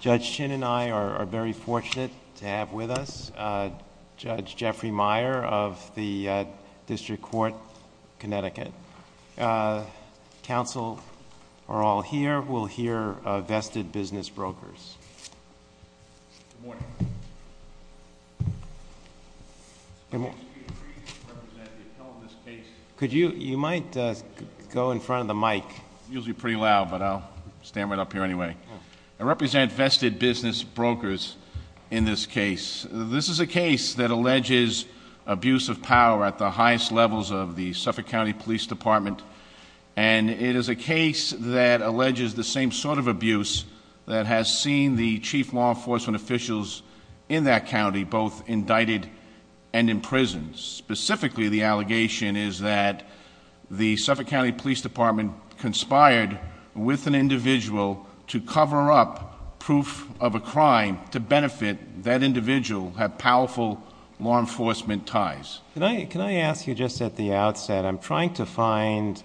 Judge Chin and I are very fortunate to have with us Judge Jeffrey Meyer of the District Court, Connecticut. Counsel are all here. We'll hear Vested Business Brokers. You might go in front of the mic. It's usually pretty loud, but I'll stand right up here anyway. I represent Vested Business Brokers in this case. This is a case that alleges abuse of power at the highest levels of the Suffolk County Police Department. And it is a case that alleges the same sort of abuse that has seen the chief law enforcement officials in that county both indicted and imprisoned. Specifically, the allegation is that the Suffolk County Police Department conspired with an individual to cover up proof of a crime to benefit that individual have powerful law enforcement ties. Can I ask you just at the outset, I'm trying to find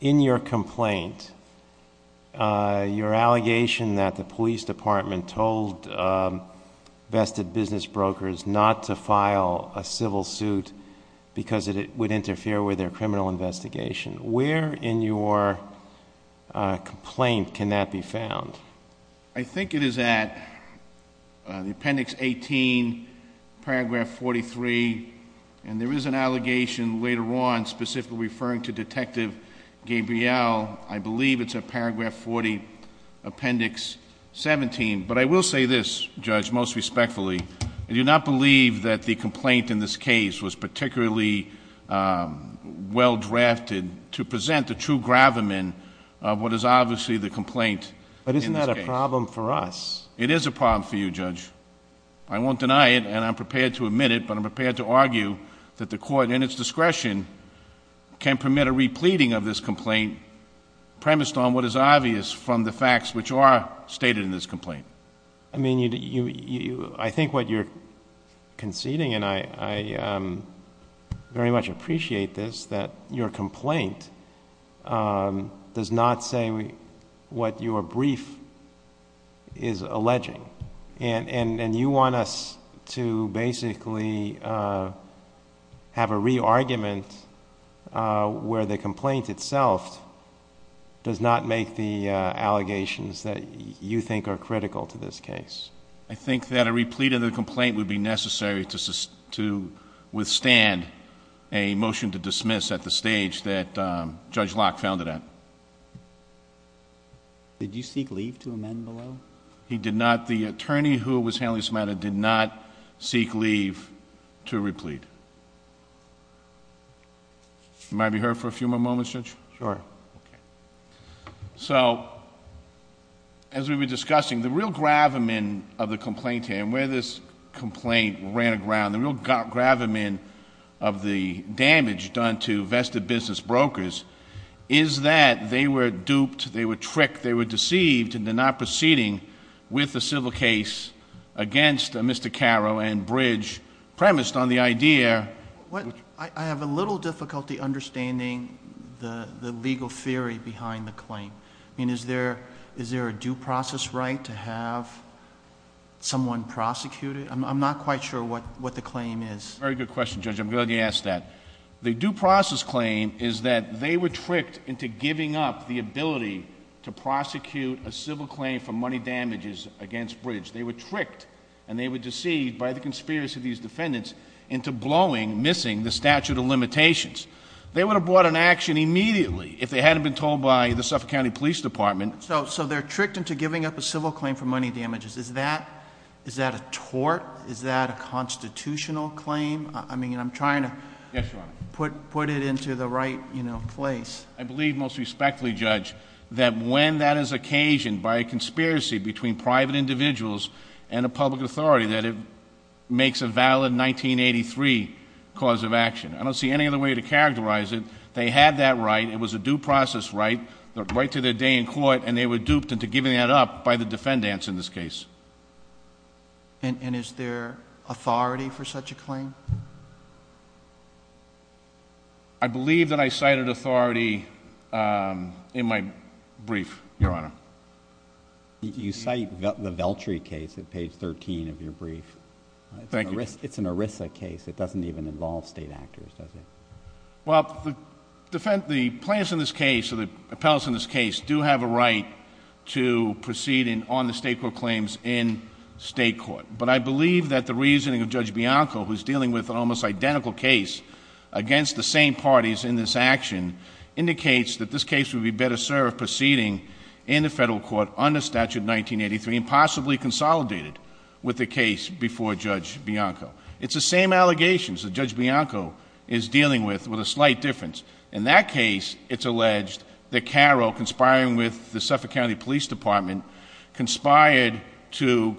in your complaint, your allegation that the police department told Vested Business Brokers not to file a civil suit because it would interfere with their criminal investigation. Where in your complaint can that be found? I think it is at the Appendix 18, Paragraph 43. And there is an allegation later on specifically referring to Detective Gabriel. I believe it's at Paragraph 40, Appendix 17. But I will say this, Judge, most respectfully, I do not believe that the complaint in this to present the true gravamen of what is obviously the complaint in this case. But isn't that a problem for us? It is a problem for you, Judge. I won't deny it, and I'm prepared to admit it, but I'm prepared to argue that the court in its discretion can permit a repleting of this complaint premised on what is obvious from the facts which are stated in this complaint. I mean, I think what you're conceding, and I very much appreciate this, that your complaint does not say what your brief is alleging. And you want us to basically have a re-argument where the complaint itself does not make the to this case. I think that a replete of the complaint would be necessary to withstand a motion to dismiss at the stage that Judge Locke found it at. Did you seek leave to amend below? He did not. The attorney who was handling this matter did not seek leave to replete. You mind if we hold for a few more moments, Judge? Sure. Okay. So, as we were discussing, the real gravamen of the complaint here, and where this complaint ran aground, the real gravamen of the damage done to vested business brokers, is that they were duped, they were tricked, they were deceived into not proceeding with the civil case against Mr. Carroll and Bridge premised on the idea— I have a little difficulty understanding the legal theory behind the claim. Is there a due process right to have someone prosecuted? I'm not quite sure what the claim is. Very good question, Judge. I'm glad you asked that. The due process claim is that they were tricked into giving up the ability to prosecute a civil claim for money damages against Bridge. They were tricked and they were deceived by the conspiracy of these defendants into blowing, missing the statute of limitations. They would have brought an action immediately if they hadn't been told by the Suffolk County Police Department. So, they're tricked into giving up a civil claim for money damages. Is that a tort? Is that a constitutional claim? I mean, I'm trying to put it into the right place. I believe most respectfully, Judge, that when that is occasioned by a conspiracy between private individuals and a public authority, that it makes a valid 1983 cause of action. I don't see any other way to characterize it. They had that right. It was a due process right, right to their day in court, and they were duped into giving that up by the defendants in this case. And is there authority for such a claim? I believe that I cited authority in my brief, Your Honor. You cite the Veltri case at page 13 of your brief. It's an ERISA case. It doesn't even involve state actors, does it? Well, the plaintiffs in this case or the appellants in this case do have a right to proceed on the state court claims in state court. But I believe that the reasoning of Judge Bianco, who's dealing with an almost identical case against the same parties in this action, indicates that this case would be better served proceeding in the federal court under Statute 1983 and possibly consolidated with the case before Judge Bianco. It's the same allegations that Judge Bianco is dealing with, with a slight difference. In that case, it's alleged that Carroll, conspiring with the Suffolk County Police Department, conspired to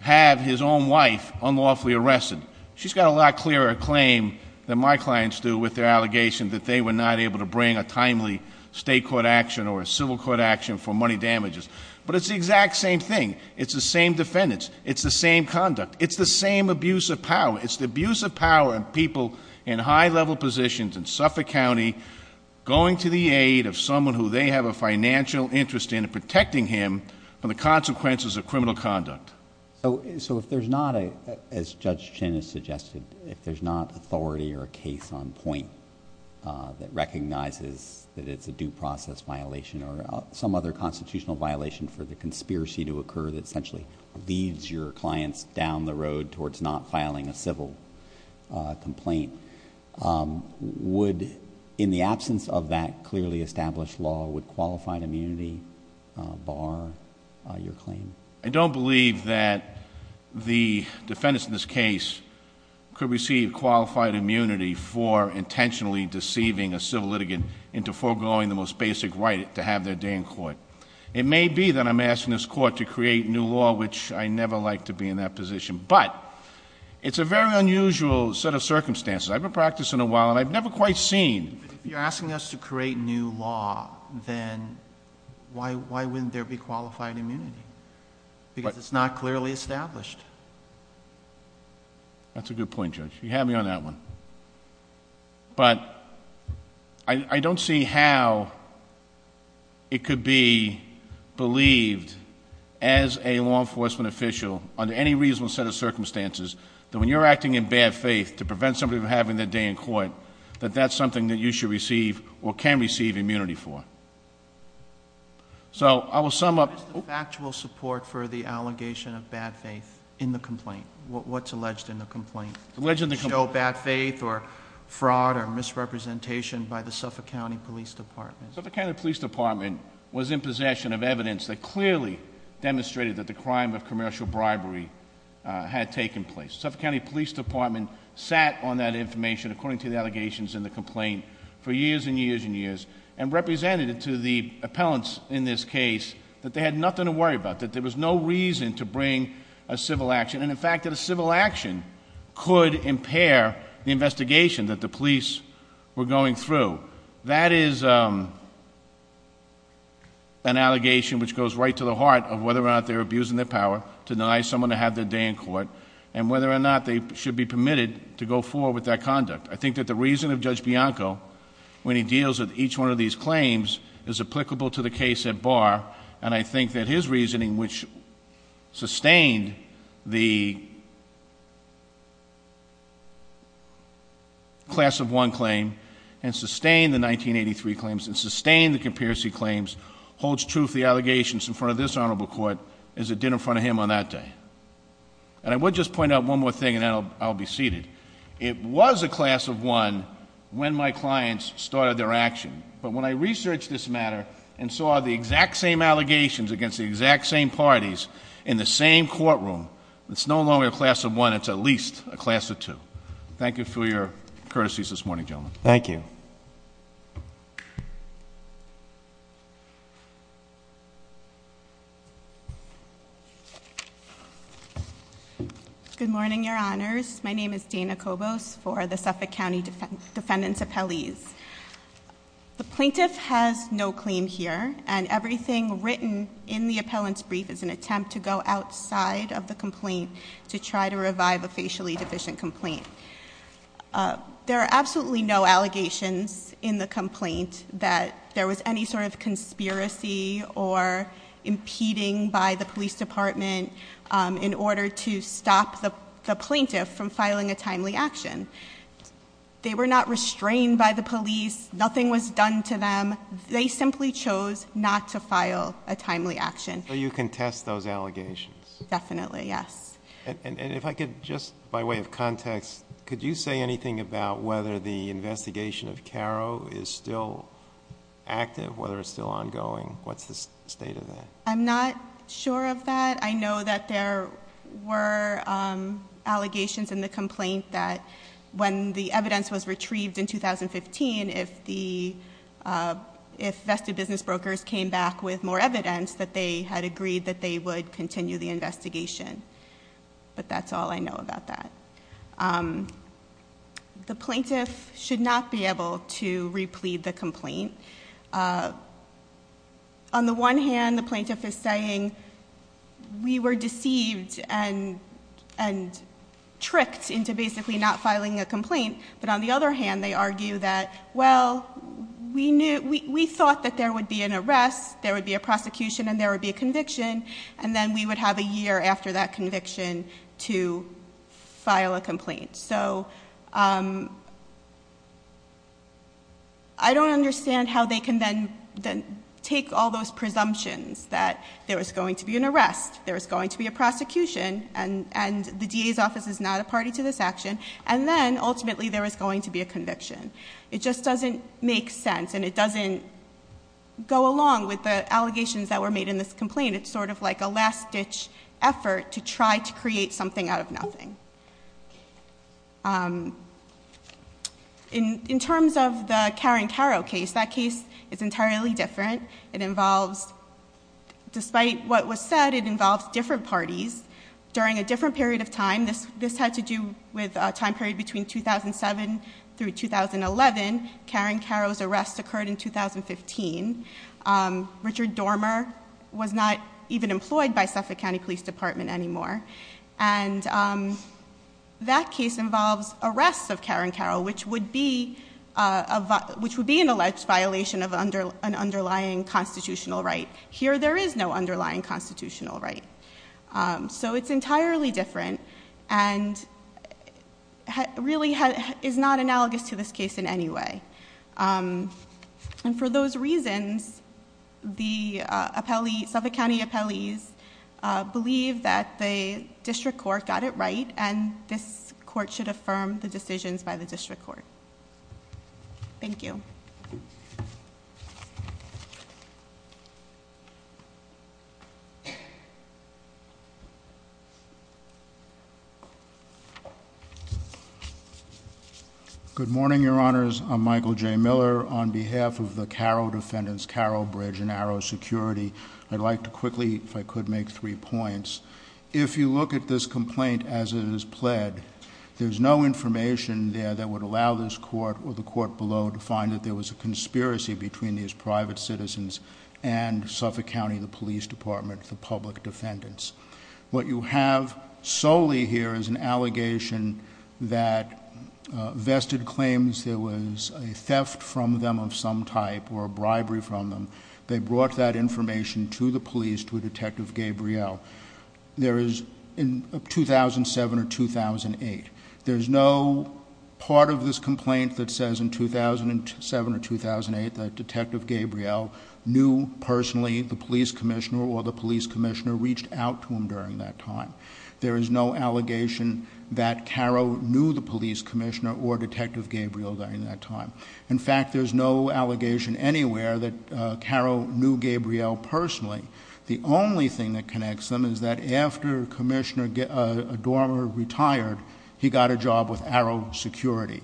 have his own wife unlawfully arrested. She's got a lot clearer claim than my clients do with their allegations that they were not able to bring a timely state court action or a civil court action for money damages. But it's the exact same thing. It's the same defendants. It's the same conduct. It's the same abuse of power. It's the abuse of power of people in high-level positions in Suffolk County going to the aid of someone who they have a financial interest in and protecting him from the consequences of criminal conduct. So if there's not, as Judge Chin has suggested, if there's not authority or a case on point that recognizes that it's a due process violation or some other constitutional violation for the conspiracy to occur that essentially leads your clients down the road towards not filing a civil complaint, would, in the absence of that clearly established law, would qualified immunity bar your claim? I don't believe that the defendants in this case could receive qualified immunity for intentionally deceiving a civil litigant into foregoing the most basic right to have their day in court. It may be that I'm asking this court to create new law, which I never like to be in that position. But it's a very unusual set of circumstances. I've been practicing a while and I've never quite seen. But if you're asking us to create new law, then why wouldn't there be qualified immunity? Because it's not clearly established. That's a good point, Judge. You had me on that one. But I don't see how it could be believed as a law enforcement official, under any reasonable set of circumstances, that when you're acting in bad faith to prevent somebody from having their day in court, that that's something that you should receive or can receive immunity for. So I will sum up- What is the factual support for the allegation of bad faith in the complaint? What's alleged in the complaint? Alleged in the complaint- Show bad faith or fraud or misrepresentation by the Suffolk County Police Department. Suffolk County Police Department was in possession of evidence that clearly demonstrated that the crime of commercial bribery had taken place. The Suffolk County Police Department sat on that information, according to the allegations in the complaint, for years and years and years, and represented it to the appellants in this case that they had nothing to worry about, that there was no reason to bring a civil action. And in fact, that a civil action could impair the investigation that the police were going through. That is an allegation which goes right to the heart of whether or not they're abusing their power to deny someone to have their day in court, and whether or not they should be permitted to go forward with that conduct. I think that the reason of Judge Bianco, when he deals with each one of these claims, is applicable to the case at bar, and I think that his reasoning, which sustained the Class of 1 claim, and sustained the 1983 claims, and sustained the comparison claims, holds truth to the allegations in front of this Honorable Court as it did in front of him on that day. And I would just point out one more thing, and then I'll be seated. It was a Class of 1 when my clients started their action, but when I researched this matter and saw the exact same allegations against the exact same parties in the same courtroom, it's no longer a Class of 1, it's at least a Class of 2. Thank you for your courtesies this morning, gentlemen. Thank you. Good morning, your honors. My name is Dana Cobos for the Suffolk County Defendant's Appellees. The plaintiff has no claim here, and everything written in the appellant's brief is an attempt to go outside of the complaint to try to revive a facially deficient complaint. There are absolutely no allegations in the complaint that there was any sort of conspiracy or impeding by the police department in order to stop the plaintiff from filing a timely action. They were not restrained by the police, nothing was done to them, they simply chose not to file a timely action. So you contest those allegations? Definitely, yes. And if I could, just by way of context, could you say anything about whether the investigation of Caro is still active, whether it's still ongoing? What's the state of that? I'm not sure of that. I know that there were allegations in the complaint that when the evidence was retrieved in 2015, if vested business brokers came back with more evidence, that they had agreed that they would continue the investigation. But that's all I know about that. The plaintiff should not be able to replead the complaint. On the one hand, the plaintiff is saying, we were deceived and tricked into basically not filing a complaint, but on the other hand, they argue that, well, we thought that there would be an arrest, there would be a prosecution, and there would be a conviction. And then we would have a year after that conviction to file a complaint. So I don't understand how they can then take all those presumptions that there was going to be an arrest, there was going to be a prosecution, and the DA's office is not a party to this action, and then ultimately there was going to be a conviction. It just doesn't make sense, and it doesn't go along with the allegations that were made in this complaint. It's sort of like a last ditch effort to try to create something out of nothing. In terms of the Karen Caro case, that case is entirely different. It involves, despite what was said, it involves different parties during a different period of time. This had to do with a time period between 2007 through 2011. Karen Caro's arrest occurred in 2015. Richard Dormer was not even employed by Suffolk County Police Department anymore. And that case involves arrests of Karen Caro, which would be an alleged violation of an underlying constitutional right. Here, there is no underlying constitutional right. So it's entirely different, and really is not analogous to this case in any way. And for those reasons, the Suffolk County appellees believe that the district court got it right, and this court should affirm the decisions by the district court. Thank you. Good morning, your honors. I'm Michael J. Miller on behalf of the Caro Defendants, Caro Bridge and Arrow Security. I'd like to quickly, if I could, make three points. If you look at this complaint as it is pled, there's no information there that would allow this court or the court below to find that there was a conspiracy between these private citizens and the Defendants What you have solely here is an allegation that vested claims there was a theft from them of some type, or a bribery from them. They brought that information to the police, to Detective Gabriel. There is, in 2007 or 2008, there's no part of this complaint that says in 2007 or 2008 that Detective Gabriel knew personally the police commissioner or the police commissioner reached out to him during that time. There is no allegation that Caro knew the police commissioner or Detective Gabriel during that time. In fact, there's no allegation anywhere that Caro knew Gabriel personally. The only thing that connects them is that after Commissioner Dormer retired, he got a job with Arrow Security,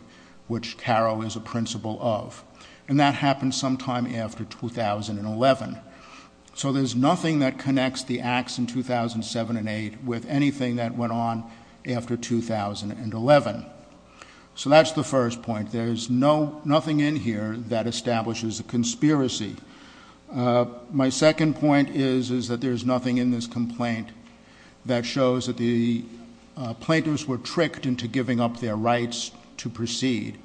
which Caro is a principal of. And that happened sometime after 2011. So there's nothing that connects the acts in 2007 and 2008 with anything that went on after 2011. So that's the first point. There's nothing in here that establishes a conspiracy. My second point is that there's nothing in this complaint that shows that the plaintiffs were tricked into giving up their rights to proceed.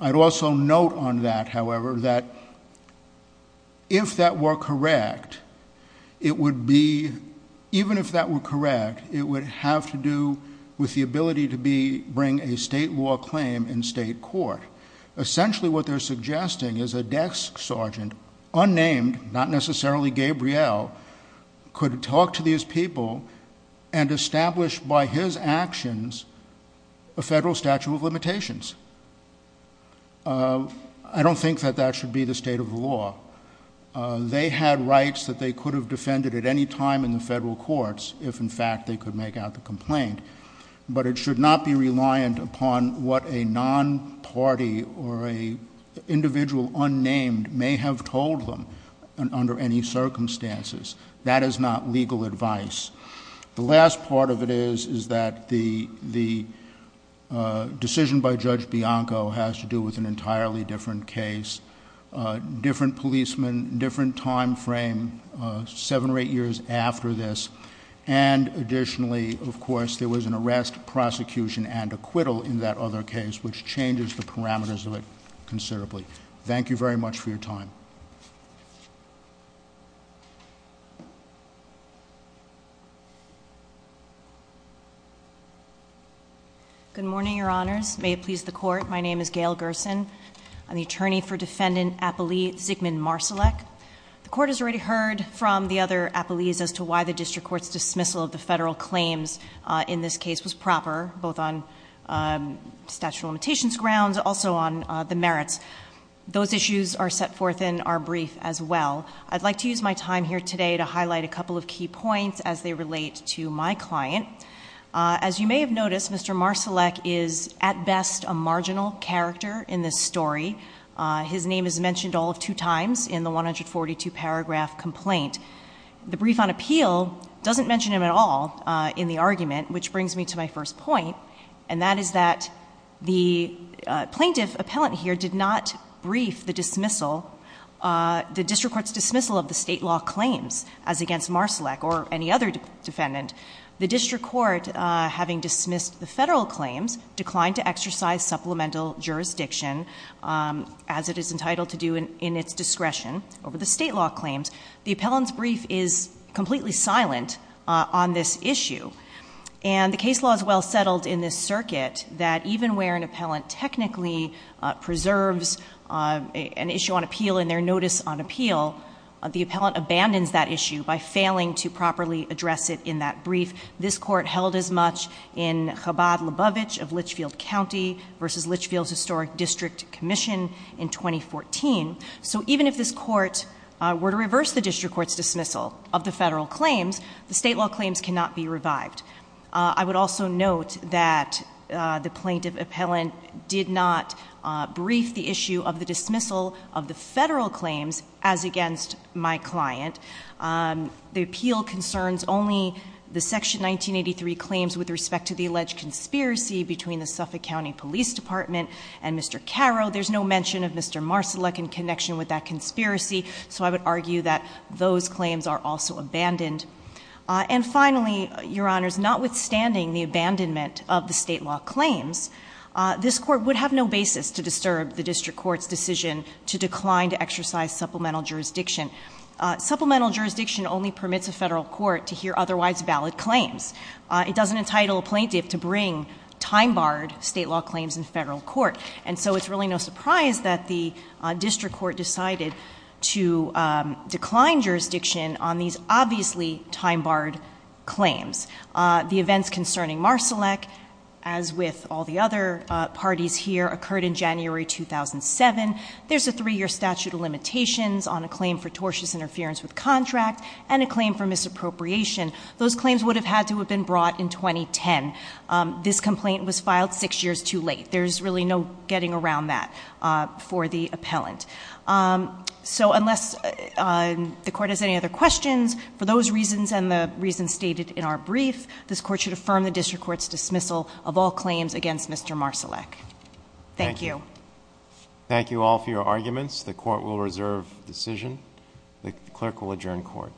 I'd also note on that, however, that if that were correct, it would be, even if that were correct, it would have to do with the ability to bring a state law claim in state court. Essentially what they're suggesting is a desk sergeant, unnamed, not necessarily Gabriel, could talk to these people and establish by his actions a federal statute of limitations. I don't think that that should be the state of the law. They had rights that they could have defended at any time in the federal courts, if in fact they could make out the complaint. But it should not be reliant upon what a non-party or an individual unnamed may have told them under any circumstances. That is not legal advice. The last part of it is, is that the decision by Judge Bianco has to do with an entirely different case. Different policemen, different time frame, seven or eight years after this. And additionally, of course, there was an arrest, prosecution, and acquittal in that other case, which changes the parameters of it considerably. Thank you very much for your time. Good morning, your honors. May it please the court. My name is Gail Gerson. I'm the attorney for Defendant Appellee Zigmund Marsalek. The court has already heard from the other appellees as to why the district court's dismissal of the federal claims in this case was proper. Both on statute of limitations grounds, also on the merits. Those issues are set forth in our brief as well. I'd like to use my time here today to highlight a couple of key points as they relate to my client. As you may have noticed, Mr. Marsalek is, at best, a marginal character in this story. His name is mentioned all of two times in the 142 paragraph complaint. The brief on appeal doesn't mention him at all in the argument, which brings me to my first point. And that is that the plaintiff appellant here did not brief the dismissal. The district court's dismissal of the state law claims as against Marsalek or any other defendant. The district court, having dismissed the federal claims, declined to exercise supplemental jurisdiction as it is entitled to do in its discretion over the state law claims. The appellant's brief is completely silent on this issue. And the case law is well settled in this circuit that even where an appellant technically preserves an issue on appeal in their notice on appeal, the appellant abandons that issue by failing to properly address it in that brief. This court held as much in Chabad-Lebovich of Litchfield County versus Litchfield's Historic District Commission in 2014. So even if this court were to reverse the district court's dismissal of the federal claims, the state law claims cannot be revived. I would also note that the plaintiff appellant did not brief the issue of the dismissal of the federal claims as against my client. The appeal concerns only the section 1983 claims with respect to the alleged conspiracy between the Suffolk County Police Department and Mr. Caro. There's no mention of Mr. Marsalek in connection with that conspiracy, so I would argue that those claims are also abandoned. And finally, Your Honors, notwithstanding the abandonment of the state law claims, this court would have no basis to disturb the district court's decision to decline to exercise supplemental jurisdiction. Supplemental jurisdiction only permits a federal court to hear otherwise valid claims. It doesn't entitle a plaintiff to bring time-barred state law claims in federal court. And so it's really no surprise that the district court decided to bring in the time-barred claims. The events concerning Marsalek, as with all the other parties here, occurred in January 2007. There's a three-year statute of limitations on a claim for tortious interference with contract and a claim for misappropriation. Those claims would have had to have been brought in 2010. This complaint was filed six years too late. There's really no getting around that for the appellant. So unless the court has any other questions, for those reasons and the reasons stated in our brief, this court should affirm the district court's dismissal of all claims against Mr. Marsalek. Thank you. Thank you all for your arguments. The court will reserve decision. The clerk will adjourn court.